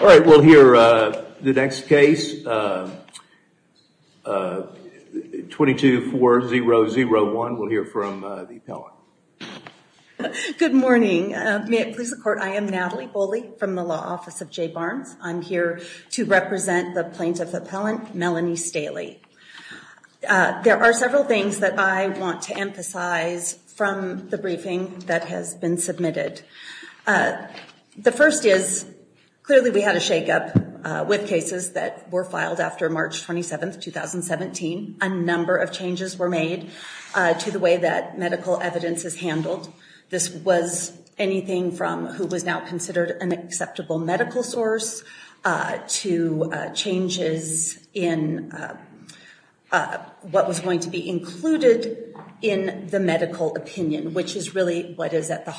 All right, we'll hear the next case, 22-4001. We'll hear from the appellant. Good morning. May it please the court, I am Natalie Boley from the law office of Jay Barnes. I'm here to represent the plaintiff appellant, Melanie Staheli. There are several things that I want to emphasize from the briefing that has been submitted. The first is, clearly we had a shakeup with cases that were filed after March 27th, 2017. A number of changes were made to the way that medical evidence is handled. This was anything from who was now considered an acceptable medical source to changes in what was going to be included in the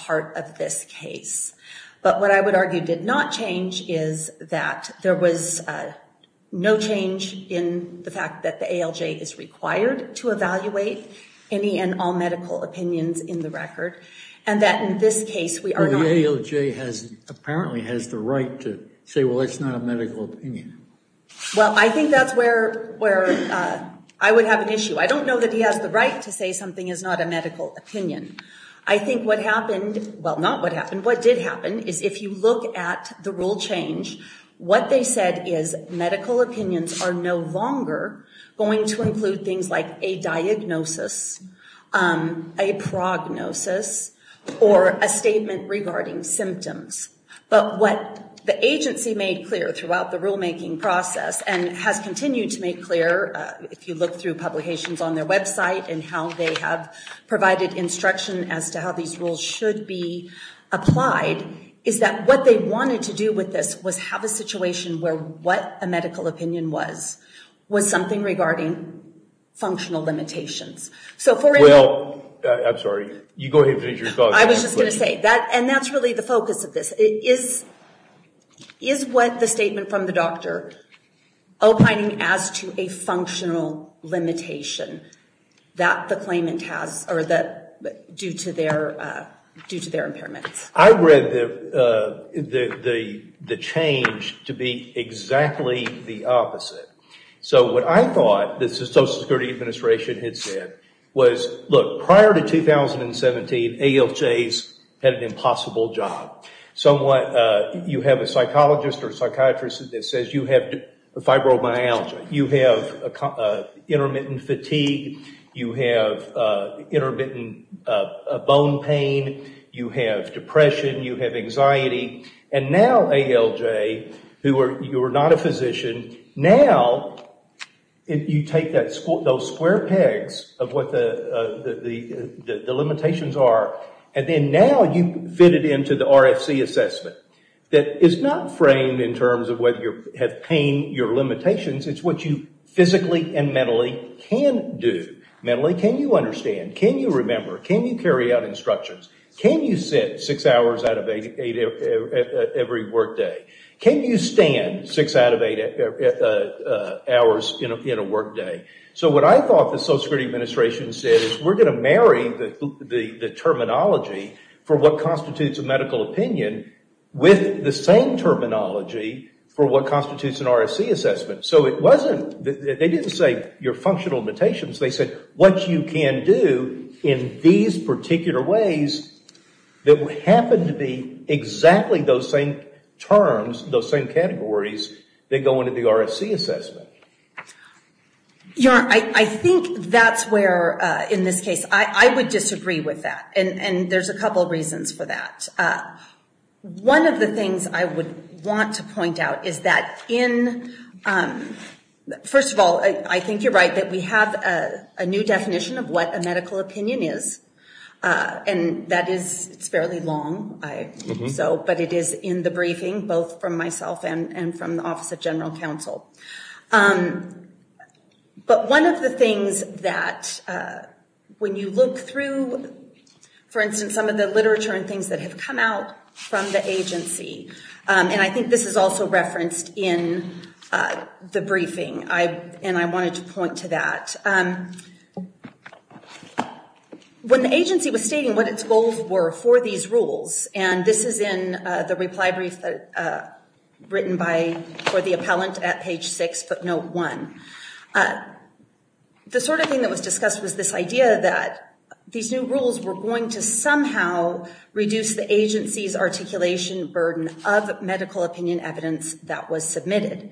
part of this case. But what I would argue did not change is that there was no change in the fact that the ALJ is required to evaluate any and all medical opinions in the record, and that in this case we are not... The ALJ has, apparently, has the right to say, well, it's not a medical opinion. Well, I think that's where, where I would have an issue. I don't know that he has the right to say something is not a medical opinion. I think what happened, well, not what happened, what did happen is if you look at the rule change, what they said is medical opinions are no longer going to include things like a diagnosis, a prognosis, or a statement regarding symptoms. But what the agency made clear throughout the rulemaking process, and has continued to make clear if you look through publications on their website and how they have provided instruction as to how these rules should be applied, is that what they wanted to do with this was have a situation where what a medical opinion was, was something regarding functional limitations. So for... Well, I'm sorry, you go ahead. I was just going to say that, and that's really the focus of this. It is, is what the statement from the doctor opining as to a functional limitation that the claimant has, or that due to their, due to their impairments. I read the, the, the change to be exactly the opposite. So what I thought the Social Security Administration had said was, look, prior to 2017, ALJs had an impossible job. So what, you have a fibromyalgia, you have intermittent fatigue, you have intermittent bone pain, you have depression, you have anxiety, and now ALJ, who are, you're not a physician, now you take that, those square pegs of what the, the, the limitations are, and then now you fit it into the RFC assessment that is not framed in terms of whether you have pain, your limitations, it's what you physically and mentally can do. Mentally, can you understand? Can you remember? Can you carry out instructions? Can you sit six hours out of eight every work day? Can you stand six out of eight hours in a, in a work day? So what I thought the Social Security Administration said is, we're going to marry the, the, the terminology for what constitutes an RFC assessment. So it wasn't, they didn't say your functional limitations, they said what you can do in these particular ways that would happen to be exactly those same terms, those same categories that go into the RFC assessment. Yeah, I think that's where, in this case, I, I would disagree with that, and, and there's a couple of reasons for that. One of the things that I did want to point out is that in, first of all, I, I think you're right that we have a, a new definition of what a medical opinion is, and that is, it's fairly long, so, but it is in the briefing, both from myself and, and from the Office of General Counsel. But one of the things that, when you look through, for instance, some of the literature and things that have come out from the agency, and I think this is also referenced in the briefing, I, and I wanted to point to that. When the agency was stating what its goals were for these rules, and this is in the reply brief that, written by, for the appellant at page six footnote one, the sort of thing that was discussed was this idea that these new rules were going to somehow reduce the agency's articulation burden of medical opinion evidence that was submitted.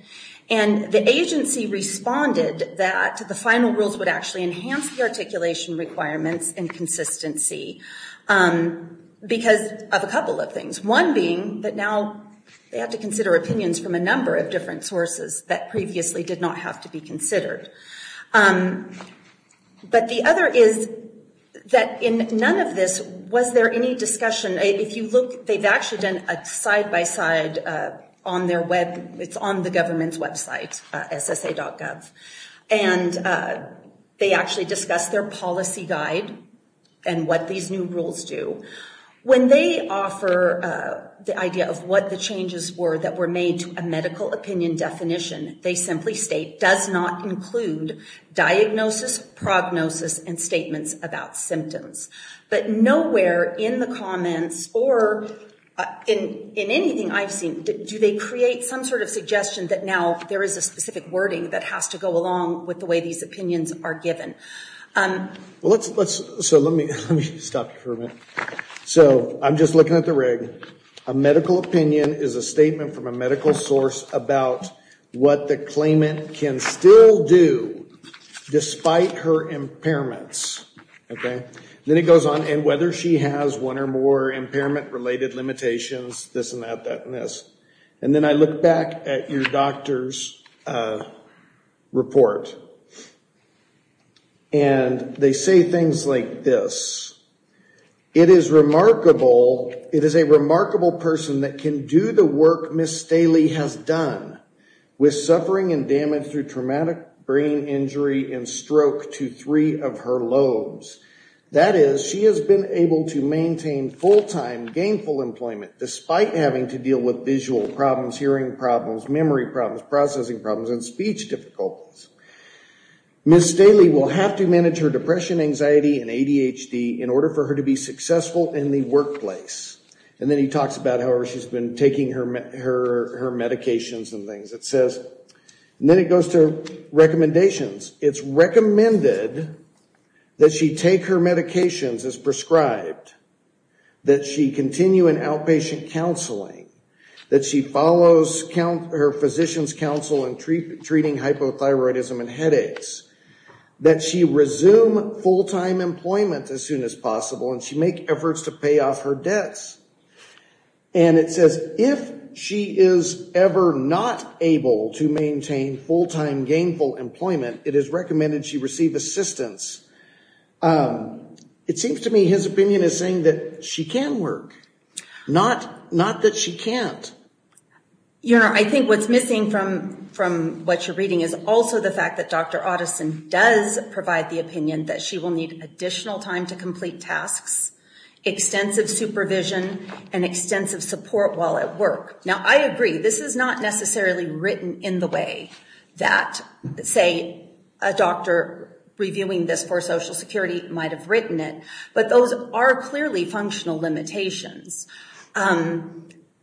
And the agency responded that the final rules would actually enhance the articulation requirements and consistency, because of a couple of things. One being that now they have to consider opinions from a number of different sources that previously did not have to be considered. But the other is that in none of this was there any discussion. If you look, they've actually done a side-by-side on their web, it's on the government's website, ssa.gov, and they actually discussed their policy guide and what these new rules do. When they offer the idea of what the changes were that were made to a medical opinion definition, they simply state, does not include diagnosis, prognosis, and statements about symptoms. But nowhere in the comments, or in anything I've seen, do they create some sort of suggestion that now there is a specific wording that has to go along with the way these opinions are given. Let's, so let me stop you for a minute. So I'm just looking at the rig. A medical opinion is a statement from a medical source about what the claimant can still do, despite her impairments. Okay. Then it goes on, and whether she has one or more impairment-related limitations, this and that, that and this. And then I look back at your doctor's report, and they say things like this. It is remarkable, it is a remarkable person that can do the work Ms. Staley has done, with suffering and damage through traumatic brain injury and stroke to three of her lobes. That is, she has been able to maintain full-time gainful employment, despite having to deal with visual problems, hearing problems, memory problems, processing problems, and speech difficulties. Ms. Staley will have to manage her depression, anxiety, and ADHD in order for her to be successful in the workplace. And then he talks about how she's been taking her medications and things. It says, and then it goes to recommendations, it's recommended that she take her medications as prescribed, that she continue in outpatient counseling, that she follows her physician's counsel in treating hypothyroidism and headaches, that she resume full-time employment as soon as possible, and she make efforts to pay off her debts. And it says if she is ever not able to maintain full-time gainful employment, it is recommended she receive assistance. It seems to me his opinion is saying that she can work, not that she can't. You know, I think what's missing from what you're reading is also the fact that Dr. Otteson does provide the opinion that she will need additional time to complete tasks, extensive supervision, and extensive support while at work. Now I agree, this is not necessarily written in the way that, say, a doctor reviewing this for Social Security might have written it, but those are clearly functional limitations.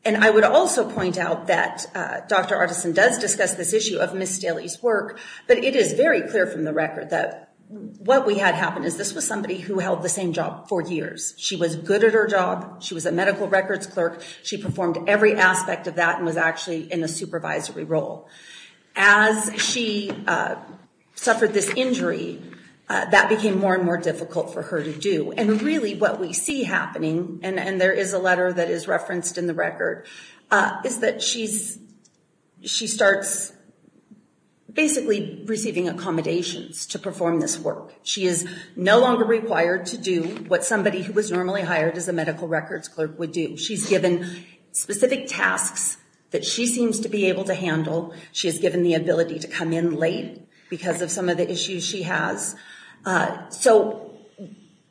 And I would also point out that Dr. Otteson does discuss this issue of Ms. Staley's work, but it is very clear from the record that what we had happen is this was somebody who held the same job for years. She was good at her job, she was a medical records clerk, she performed every aspect of that and was actually in a supervisory role. As she suffered this injury, that became more and more difficult for her to do. And really what we see happening, and there is a letter that is referenced in the record, is that she starts basically receiving accommodations to perform this work. She is no longer required to do what somebody who was normally hired as a medical records clerk would do. She's given specific tasks that she seems to be able to handle. She is given the ability to come in late because of some of the issues she has. So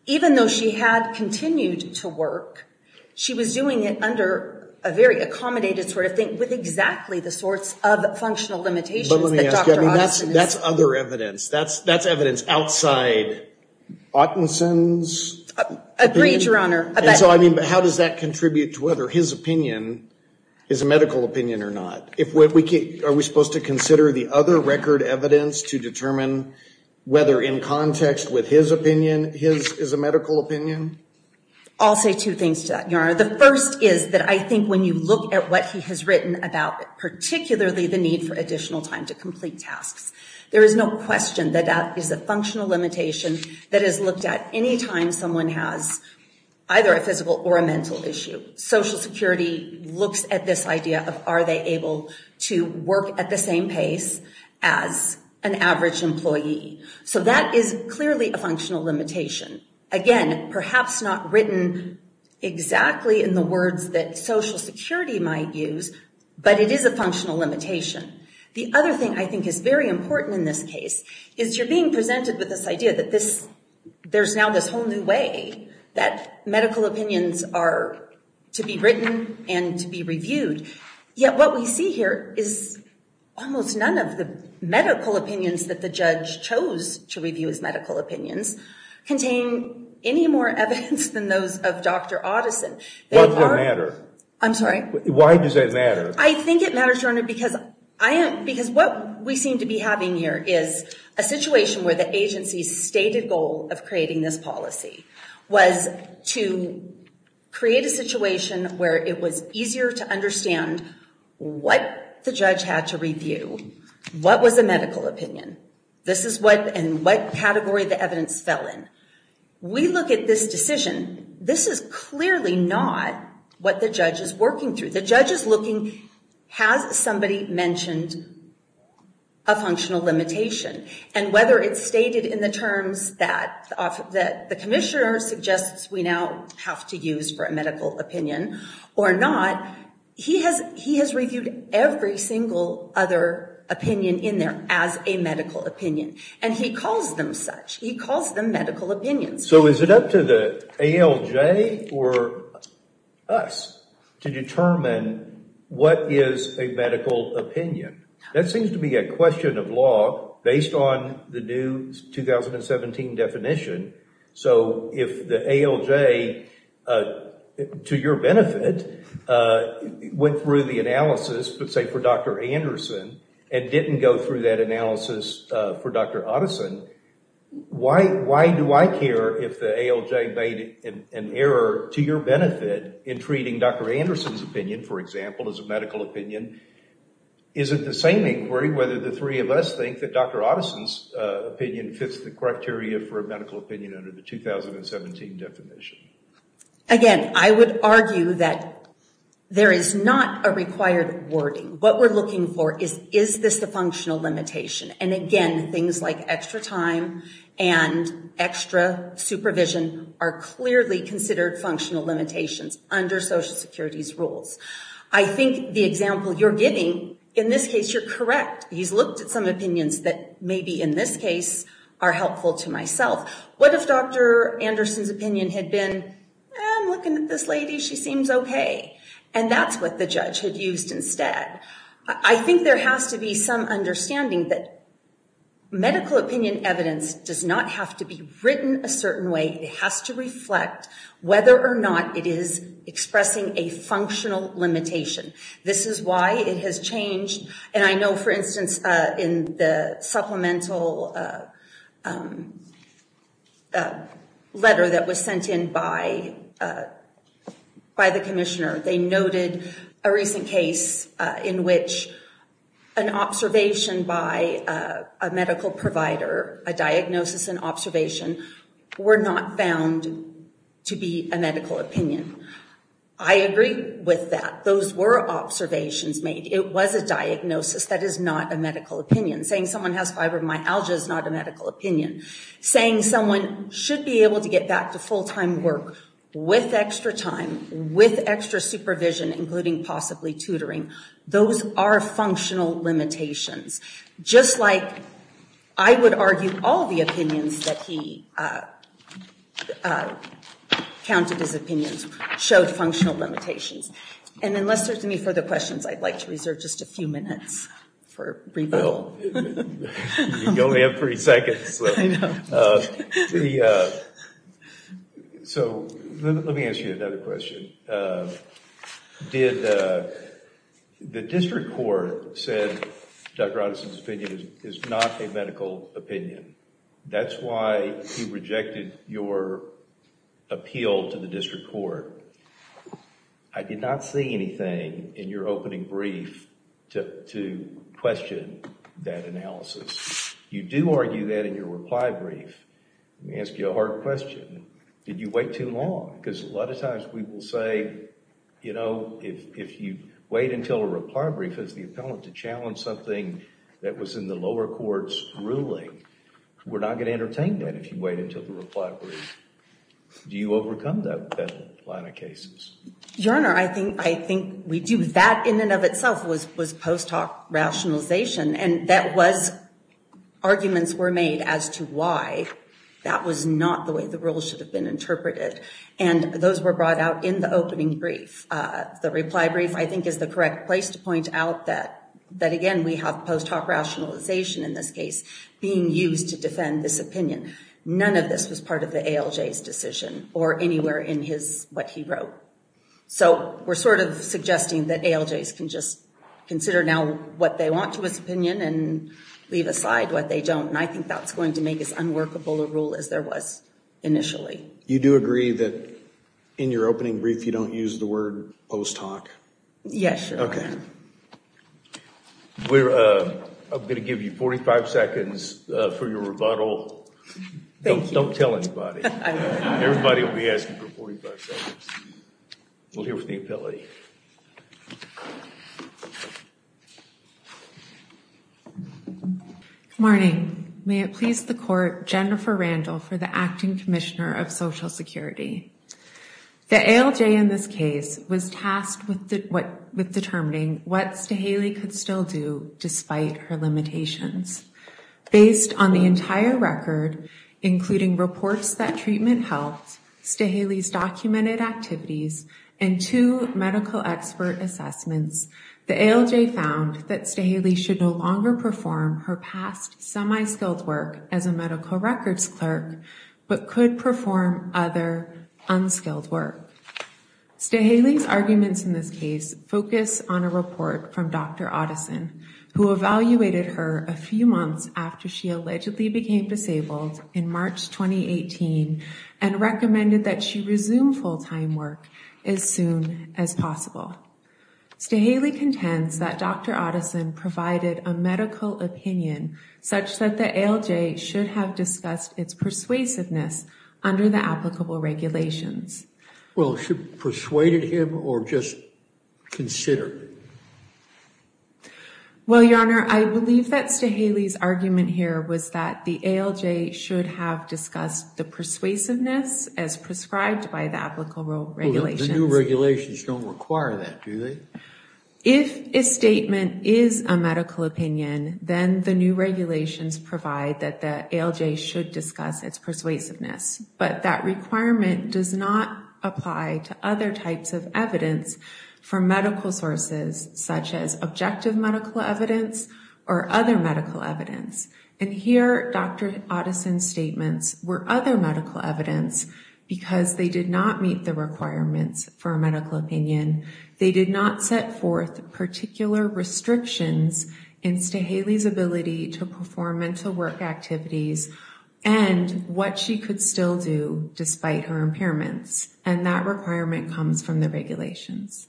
even though she had continued to work, she was doing it under a very accommodated sort of thing with exactly the sorts of functional limitations that Dr. Otteson is... But let me ask you, that's other evidence. That's evidence outside Otteson's... Agreed, Your Honor. So I mean, but how does that contribute to whether his opinion is a medical opinion or not? Are we supposed to consider the other record evidence to determine whether in context with his opinion, his is a medical opinion? I'll say two things to that, Your Honor. The first is that I think when you look at what he has written about particularly the need for additional time to complete tasks, there is no question that that is a functional limitation that is looked at anytime someone has either a physical or a mental issue. Social Security looks at this idea of are they able to work at the same pace as an average employee. So that is clearly a functional limitation. Again, perhaps not written exactly in the words that Social Security might use, but it is a functional limitation. The other thing I think is very important in this case is you're being presented with this idea that this there's now this whole new way that medical opinions are to be written and to be reviewed. Yet what we see here is almost none of the medical opinions that the judge chose to review as medical opinions contain any more evidence than those of Dr. Otteson. Why does that matter? I'm sorry? Why does that matter? I think it matters, Your Honor, because what we seem to be having here is a situation where the agency's stated goal of creating this policy was to create a situation where it was easier to understand what the judge had to review, what was a medical opinion, this is what and what category the evidence fell in. We look at this decision, this is clearly not what the judge is working through. The judge is asking, has somebody mentioned a functional limitation? And whether it's stated in the terms that the commissioner suggests we now have to use for a medical opinion or not, he has reviewed every single other opinion in there as a medical opinion. And he calls them such. He calls them medical opinions. What is a medical opinion? That seems to be a question of law based on the new 2017 definition. So if the ALJ, to your benefit, went through the analysis but say for Dr. Anderson and didn't go through that analysis for Dr. Otteson, why do I care if the ALJ made an error to your benefit in treating Dr. Anderson's medical opinion? Is it the same inquiry whether the three of us think that Dr. Otteson's opinion fits the criteria for a medical opinion under the 2017 definition? Again, I would argue that there is not a required wording. What we're looking for is, is this the functional limitation? And again, things like extra time and extra supervision are clearly considered functional limitations under Social Security's rules. I think the example you're giving, in this case, you're correct. He's looked at some opinions that maybe in this case are helpful to myself. What if Dr. Anderson's opinion had been, I'm looking at this lady, she seems okay. And that's what the judge had used instead. I think there has to be some understanding that medical opinion evidence does not have to be written a certain way. It has to reflect whether or not it is expressing a functional limitation. This is why it has changed. And I know, for instance, in the supplemental letter that was sent in by by the Commissioner, they noted a recent case in which an observation by a medical provider, a diagnosis and observation, were not found to be a medical opinion. I agree with that. Those were observations made. It was a diagnosis. That is not a medical opinion. Saying someone has fibromyalgia is not a medical opinion. Saying someone should be able to get back to full-time work with extra time, with extra supervision, including possibly tutoring. Those are functional limitations. Just like I would argue, all the opinions that he counted as opinions showed functional limitations. And unless there's any further questions, I'd like to reserve just a few minutes for rebuttal. You only have three seconds. So let me ask you another question. The district court said Dr. Anderson's opinion is not a medical opinion. That's why he rejected your appeal to the district court. I did not see anything in your opening brief to question that analysis. You do argue that in your reply brief. Let me ask you a hard question. Did you wait too long? Because a lot of times we will say, you know, if you wait until a reply brief as the appellant to challenge something that was in the lower court's ruling, we're not going to entertain that if you wait until the reply brief. Do you overcome that line of cases? Your Honor, I think we do. That in and of itself was post hoc rationalization. And that was, arguments were made as to why that was not the way the rule should have been interpreted. And those were brought out in the opening brief. The reply brief, I think, is the correct place to point out that that again we have post hoc rationalization in this case being used to defend this opinion. None of this was part of the ALJ's decision or anywhere in his, what he wrote. So we're sort of suggesting that ALJs can just consider now what they want to his opinion and leave aside what they don't. And I think that's going to make as unworkable a rule as there was initially. You do agree that in your opening brief you don't use the word post hoc? Yes, Your Honor. Okay. We're, I'm going to give you 45 seconds for your rebuttal. Don't tell anybody. Everybody will be asking for 45 seconds. We'll hear from the appellate. Good morning. May it please the court, Jennifer Randall for the Acting Commissioner of the ALJ's argument with determining what Staheli could still do despite her limitations. Based on the entire record, including reports that treatment helped, Staheli's documented activities, and two medical expert assessments, the ALJ found that Staheli should no longer perform her past semi-skilled work as a medical records clerk, but could perform other unskilled work. Staheli's arguments in this case focus on a report from Dr. Otteson, who evaluated her a few months after she allegedly became disabled in March 2018 and recommended that she resume full-time work as soon as possible. Staheli contends that Dr. Otteson provided a medical opinion such that the ALJ should have discussed its persuasiveness under the Well, she persuaded him or just considered it? Well, Your Honor, I believe that Staheli's argument here was that the ALJ should have discussed the persuasiveness as prescribed by the applicable regulations. The new regulations don't require that, do they? If a statement is a medical opinion, then the new regulations provide that the ALJ should discuss its persuasiveness. But that requirement does not apply to other types of evidence from medical sources, such as objective medical evidence or other medical evidence. And here, Dr. Otteson's statements were other medical evidence because they did not meet the requirements for a medical opinion. They did not set forth particular restrictions in Staheli's ability to perform mental work activities and what she could still do despite her impairments. And that requirement comes from the regulations.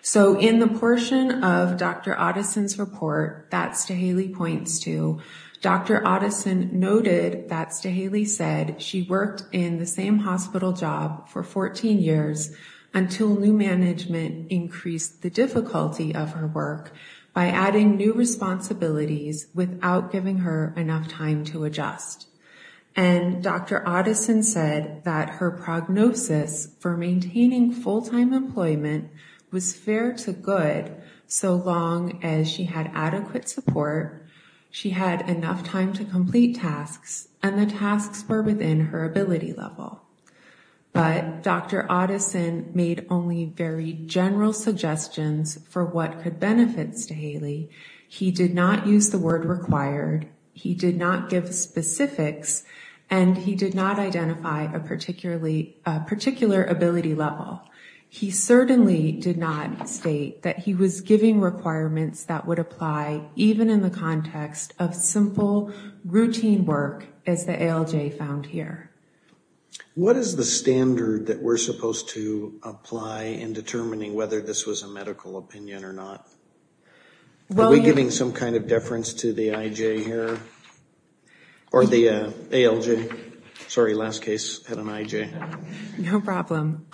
So in the portion of Dr. Otteson's report that Staheli points to, Dr. Otteson noted that Staheli said she worked in the same hospital job for 14 years until new management increased the difficulty of her work by adding new responsibilities without giving her enough time to adjust. And Dr. Otteson said that her prognosis for maintaining full-time employment was fair to good so long as she had adequate support, she had enough time to complete tasks, and the tasks were within her ability level. But Dr. Otteson made only very He did not give specifics and he did not identify a particular ability level. He certainly did not state that he was giving requirements that would apply even in the context of simple, routine work as the ALJ found here. What is the standard that we're supposed to apply in determining whether this was a medical opinion or not? Are we giving some kind of deference to the IJ here? Or the ALJ? Sorry, last case had an IJ. No problem.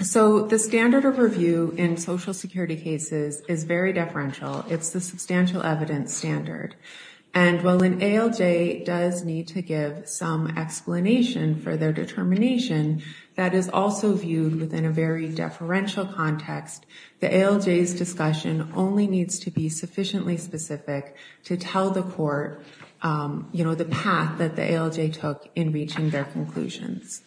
So the standard of review in Social Security cases is very deferential. It's the substantial evidence standard. And while an ALJ does need to give some explanation for their determination, that is also viewed within a very deferential context. The ALJ's discussion only needs to be sufficiently specific to tell the court, you know, the path that the ALJ took in reaching their conclusions.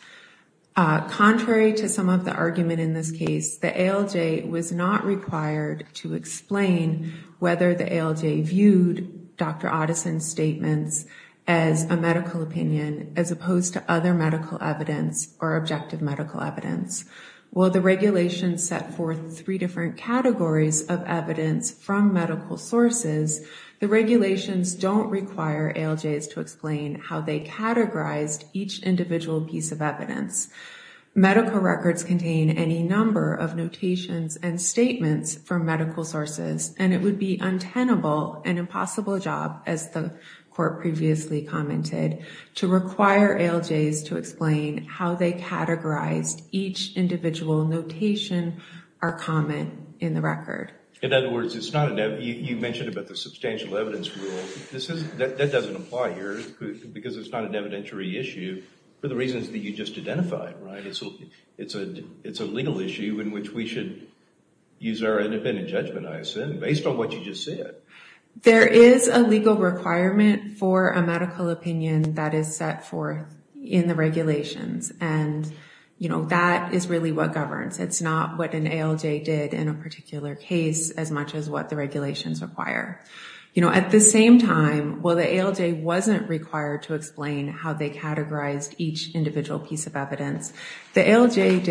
Contrary to some of the argument in this case, the ALJ was not required to explain whether the ALJ viewed Dr. Otteson's statements as a medical opinion as opposed to other medical evidence or objective medical evidence. While the regulations set forth three different categories of evidence from medical sources, the regulations don't require ALJs to explain how they categorized each individual piece of evidence. Medical records contain any number of notations and statements from medical sources and it would be an untenable and impossible job, as the court previously commented, to require ALJs to explain how they categorized each individual notation or comment in the record. In other words, you mentioned about the substantial evidence rule. That doesn't apply here because it's not an evidentiary issue for the reasons that you just identified, right? It's a legal issue in which we should use our independent judgment, I assume, based on what you just said. There is a legal requirement for a medical opinion that is set forth in the regulations and, you know, that is really what governs. It's not what an ALJ did in a particular case as much as what the regulations require. You know, at the same time, while the ALJ wasn't required to explain how they categorized each individual piece of evidence, the ALJ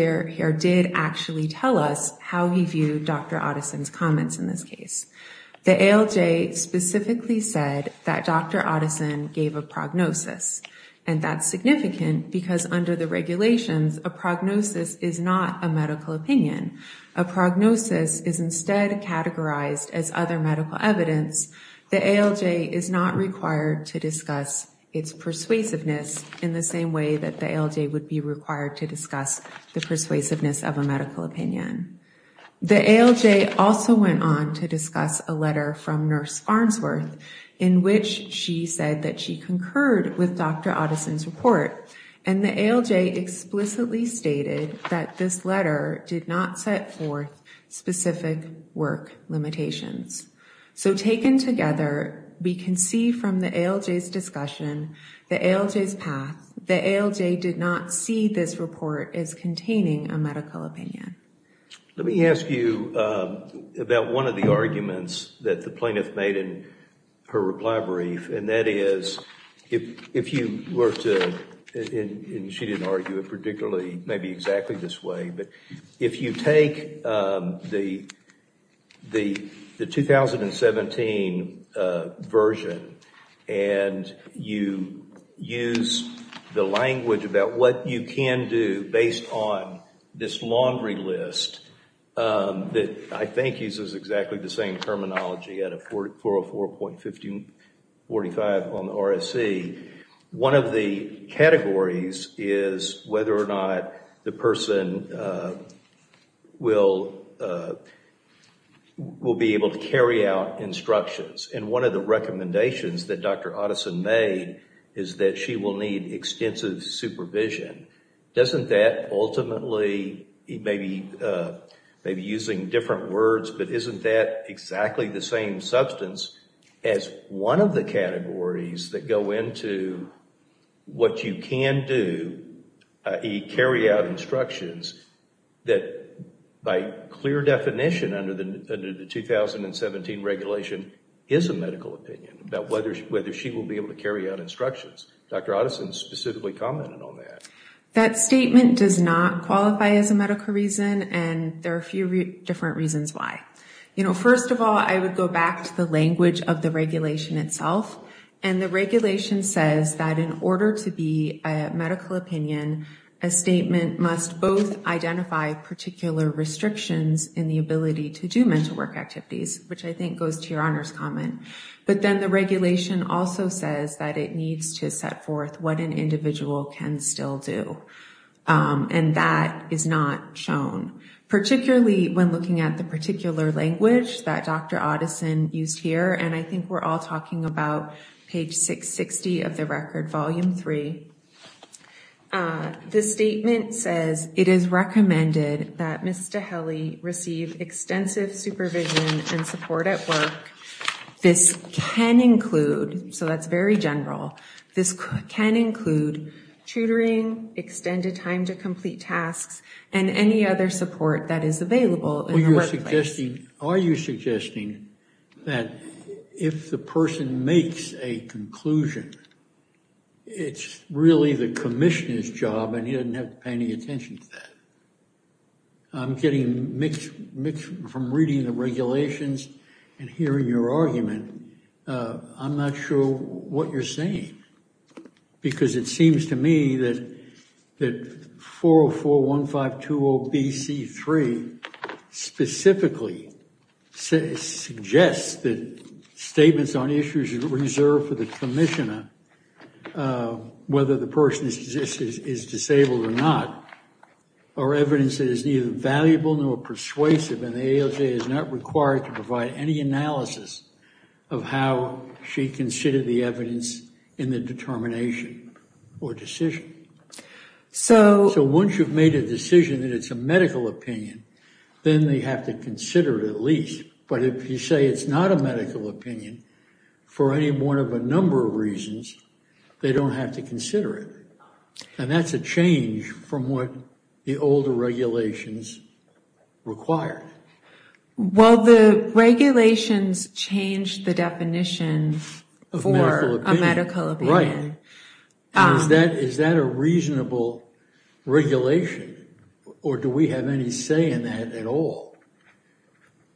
did actually tell us how he viewed Dr. Otteson's comments in this case. The ALJ specifically said that Dr. Otteson gave a prognosis and that's significant because under the regulations, a prognosis is not a medical opinion. A prognosis is instead categorized as other medical evidence. The ALJ is not required to discuss its persuasiveness in the same way that the ALJ would be required to discuss the persuasiveness of a medical opinion. The ALJ also went on to discuss a letter from Nurse Farnsworth in which she said that she concurred with Dr. Otteson's report and the ALJ explicitly stated that this letter did not set forth specific work limitations. So taken together, we can see from the ALJ's discussion, the ALJ's path, the ALJ did not see this report as containing a medical opinion. Let me ask you about one of the arguments that the plaintiff made in her reply brief and that is if you were to, and she didn't argue it particularly, maybe exactly this way, but if you take the 2017 version and you use the language about what you can do based on this laundry list that I think uses exactly the same terminology out of 404.1545 on the RSC, one of the categories is whether or not the person will be able to carry out instructions. And one of the recommendations that Dr. Otteson made is that she will need extensive supervision. Doesn't that ultimately, maybe using different words, but isn't that exactly the same substance as one of the categories that go into what you can do, i.e. carry out instructions, that by clear definition under the 2017 regulation is a medical opinion, about whether she will be able to carry out instructions. Dr. Otteson specifically commented on that. That statement does not qualify as a medical reason and there are a few different reasons why. First of all, I would go back to the language of the regulation itself and the regulation says that in order to be a medical opinion, a statement must both identify particular restrictions in the ability to do mental work activities, which I think goes to your Honor's comment. But then the regulation also says that it needs to set forth what an individual can still do. And that is not shown, particularly when looking at the particular language that Dr. Otteson used here. And I think we're all talking about page 660 of the record, volume three. The statement says it is recommended that Ms. Staheli receive extensive supervision and support at work. This can include, so that's very general, this can include tutoring, extended time to complete tasks, and any other support that is available. Are you suggesting that if the person makes a conclusion, it's really the commissioner's job and he doesn't have to pay any attention to that? I'm getting mixed from reading the regulations and hearing your argument. I'm not sure what you're saying. Because it seems to me that 4041520BC3 specifically suggests that statements on issues reserved for the commissioner, whether the person is disabled or not, are evidence that is neither valuable nor persuasive, and the ALJ is not required to provide any analysis of how she considered the evidence in the determination or decision. So once you've made a decision that it's a medical opinion, then they have to consider it at least. But if you say it's not a medical opinion, for any one of a number of reasons, they don't have to consider it. And that's a change from what the older regulations required. Well, the regulations changed the definition for a medical opinion. Right. Is that a reasonable regulation, or do we have any say in that at all?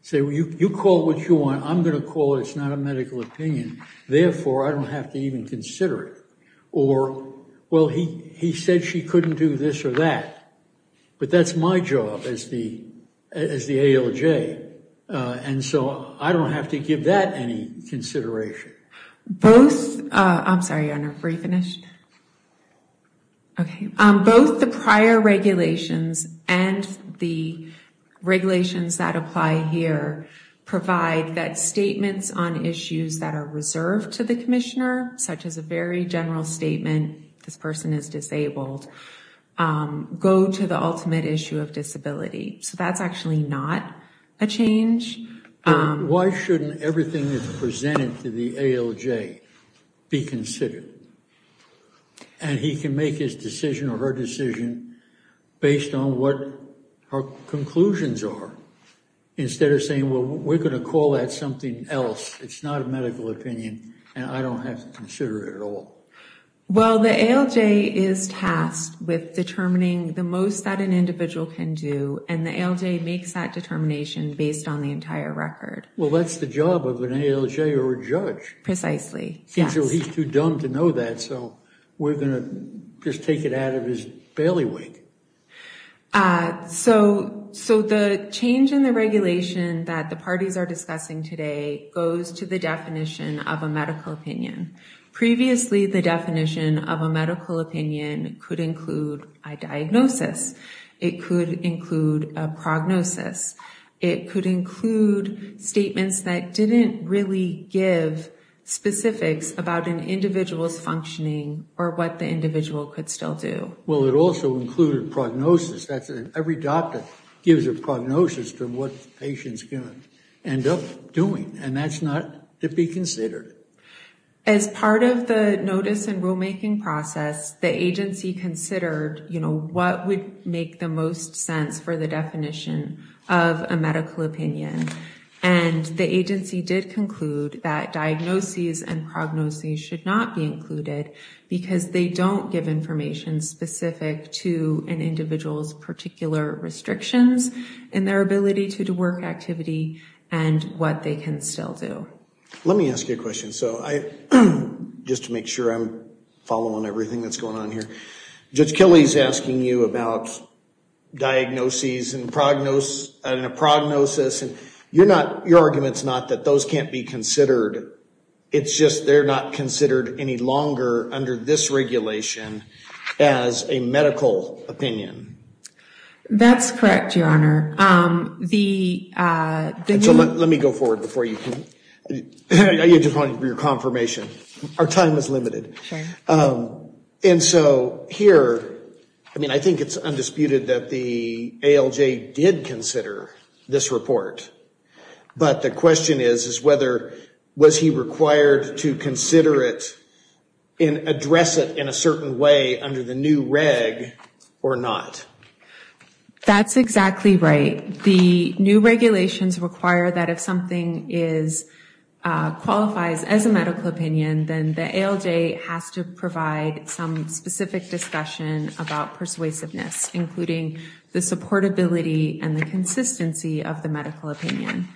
Say, well, you call it what you want. I'm going to call it it's not a medical opinion. Therefore, I don't have to even consider it. Or, well, he said she couldn't do this or that. But that's my job as the ALJ, and so I don't have to give that any consideration. Both the prior regulations and the regulations that apply here provide that statements on issues that are reserved to the commissioner, such as a very general statement, this person is disabled, go to the ultimate issue of disability. So that's actually not a change. Why shouldn't everything that's presented to the ALJ be considered? And he can make his decision or her decision based on what her conclusions are, instead of saying, well, we're going to call that something else. It's not a medical opinion, and I don't have to consider it at all. Well, the ALJ is tasked with determining the most that an individual can do, and the ALJ makes that determination based on the entire record. Well, that's the job of an ALJ or a judge. Precisely, yes. He's too dumb to know that, so we're going to just take it out of his bailiwick. So the change in the regulation that the parties are discussing today goes to the definition of a medical opinion. Previously, the definition of a medical opinion could include a diagnosis. It could include a prognosis. It could include statements that didn't really give specifics about an individual's functioning or what the individual could still do. Well, it also included prognosis. Every doctor gives a prognosis to what the patient's going to end up doing, and that's not to be considered. As part of the notice and rulemaking process, the agency considered, you know, what would make the most sense for the definition of a medical opinion, and the agency did conclude that diagnoses and prognoses should not be included because they don't give information specific to an individual's particular restrictions in their ability to do work activity and what they can still do. Let me ask you a question, just to make sure I'm following everything that's going on here. Judge Kelly's asking you about diagnoses and a prognosis, and your argument's not that those can't be considered. It's just they're not considered any longer under this regulation as a medical opinion. That's correct, Your Honor. Let me go forward before you can. I just wanted your confirmation. Our time is limited. And so here, I mean, I think it's undisputed that the ALJ did consider this report, but the question is whether was he required to consider it and address it in a certain way under the new reg or not? That's exactly right. The new regulations require that if something qualifies as a medical opinion, then the ALJ has to provide some specific discussion about persuasiveness, including the supportability and the consistency of the medical opinion.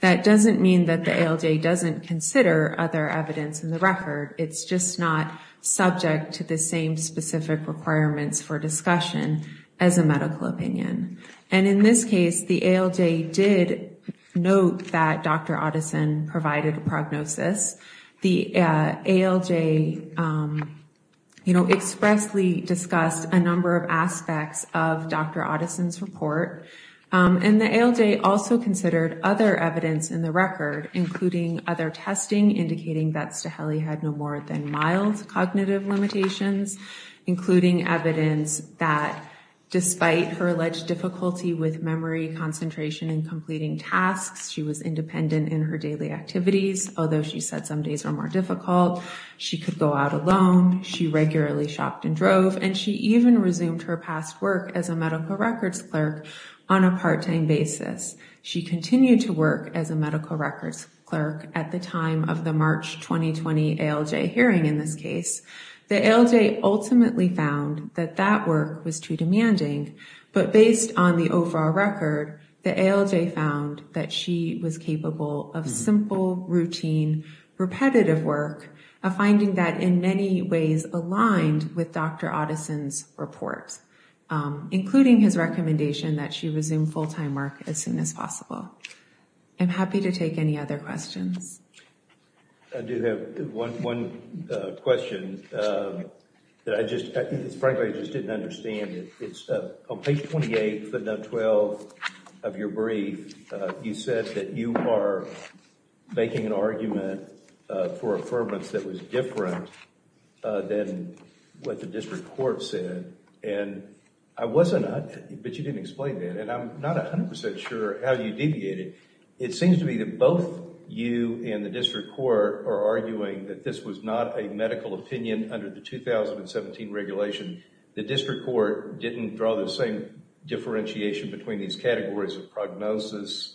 That doesn't mean that the ALJ doesn't consider other evidence in the record. It's just not subject to the same specific requirements for discussion as a medical opinion. And in this case, the ALJ did note that Dr. Otteson provided a prognosis. The ALJ expressly discussed a number of aspects of Dr. Otteson's report, and the ALJ also considered other evidence in the record, including other testing, indicating that Staheli had no more than mild cognitive limitations, including evidence that despite her alleged difficulty with memory, concentration, and completing tasks, she was independent in her daily activities, although she said some days were more difficult. She could go out alone. She regularly shopped and drove, and she even resumed her past work as a medical records clerk on a part-time basis. She continued to work as a medical records clerk at the time of the March 2020 ALJ hearing in this case. The ALJ ultimately found that that work was too demanding, but based on the overall record, the ALJ found that she was capable of simple, routine, repetitive work, a finding that in many ways aligned with Dr. Otteson's report, including his recommendation that she resume full-time work as soon as possible. I'm happy to take any other questions. I do have one question that I just frankly just didn't understand. On page 28, footnote 12 of your brief, you said that you are making an argument for affirmance that was different than what the district court said, but you didn't explain that, and I'm not 100% sure how you deviated. It seems to me that both you and the district court are arguing that this was not a medical opinion under the 2017 regulation. The district court didn't draw the same differentiation between these categories of prognosis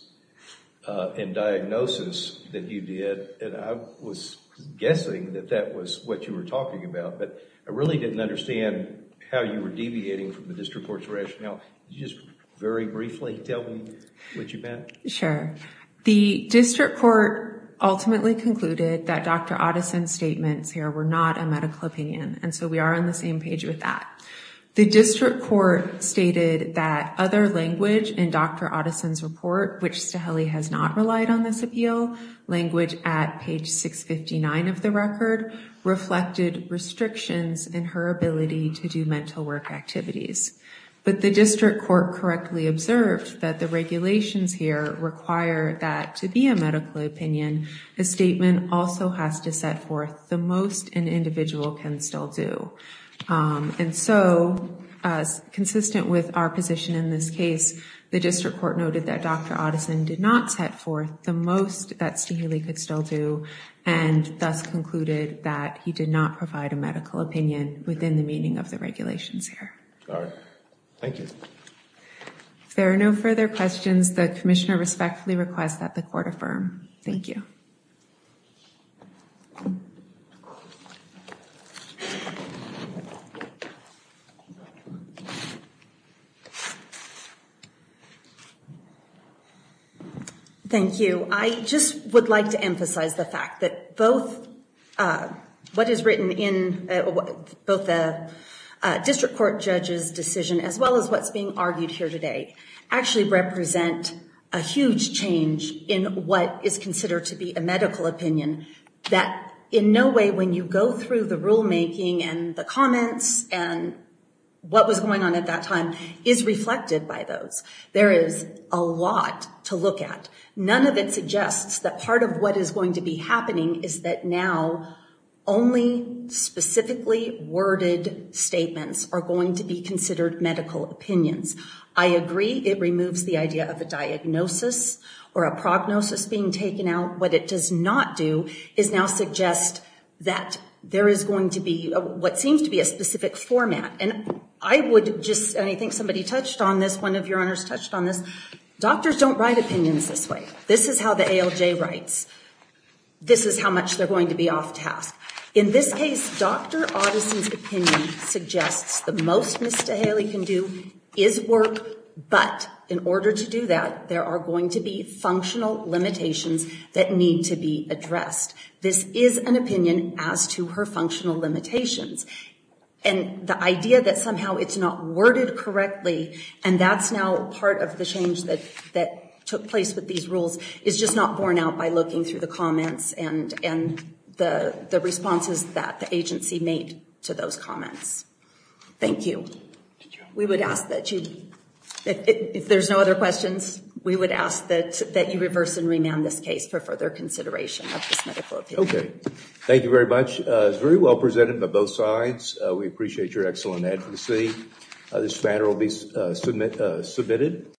and diagnosis that you did, and I was guessing that that was what you were talking about, but I really didn't understand how you were deviating from the district court's rationale. Just very briefly, tell me what you meant. Sure. The district court ultimately concluded that Dr. Otteson's statements here were not a medical opinion, and so we are on the same page with that. The district court stated that other language in Dr. Otteson's report, which Staheli has not relied on this appeal, language at page 659 of the record, reflected restrictions in her ability to do mental work activities. But the district court correctly observed that the regulations here require that to be a medical opinion, a statement also has to set forth the most an individual can still do. And so, consistent with our position in this case, the district court noted that Dr. Otteson did not set forth the most that Staheli could still do and thus concluded that he did not provide a medical opinion within the meaning of the regulations here. All right. Thank you. If there are no further questions, the commissioner respectfully requests that the court affirm. Thank you. Thank you. I just would like to emphasize the fact that both what is written in both the district court judge's decision as well as what's being argued here today actually represent a huge change in what is considered to be a medical opinion that in no way when you go through the rulemaking and the comments and what was going on at that time is reflected by those. There is a lot to look at. None of it suggests that part of what is going to be happening is that now only specifically worded statements are going to be considered medical opinions. I agree it removes the idea of a diagnosis or a prognosis being taken out. What it does not do is now suggest that there is going to be what seems to be a specific format. I think somebody touched on this. One of your honors touched on this. Doctors don't write opinions this way. This is how the ALJ writes. This is how much they're going to be off-task. In this case, Dr. Oddison's opinion suggests the most Ms. DeHaley can do is work, but in order to do that, there are going to be functional limitations that need to be addressed. This is an opinion as to her functional limitations. The idea that somehow it's not worded correctly and that's now part of the change that took place with these rules is just not borne out by looking through the comments and the responses that the agency made to those comments. Thank you. We would ask that you, if there's no other questions, we would ask that you reverse and remand this case for further consideration of this medical opinion. Thank you very much. It was very well presented by both sides. We appreciate your excellent advocacy. This matter will be submitted.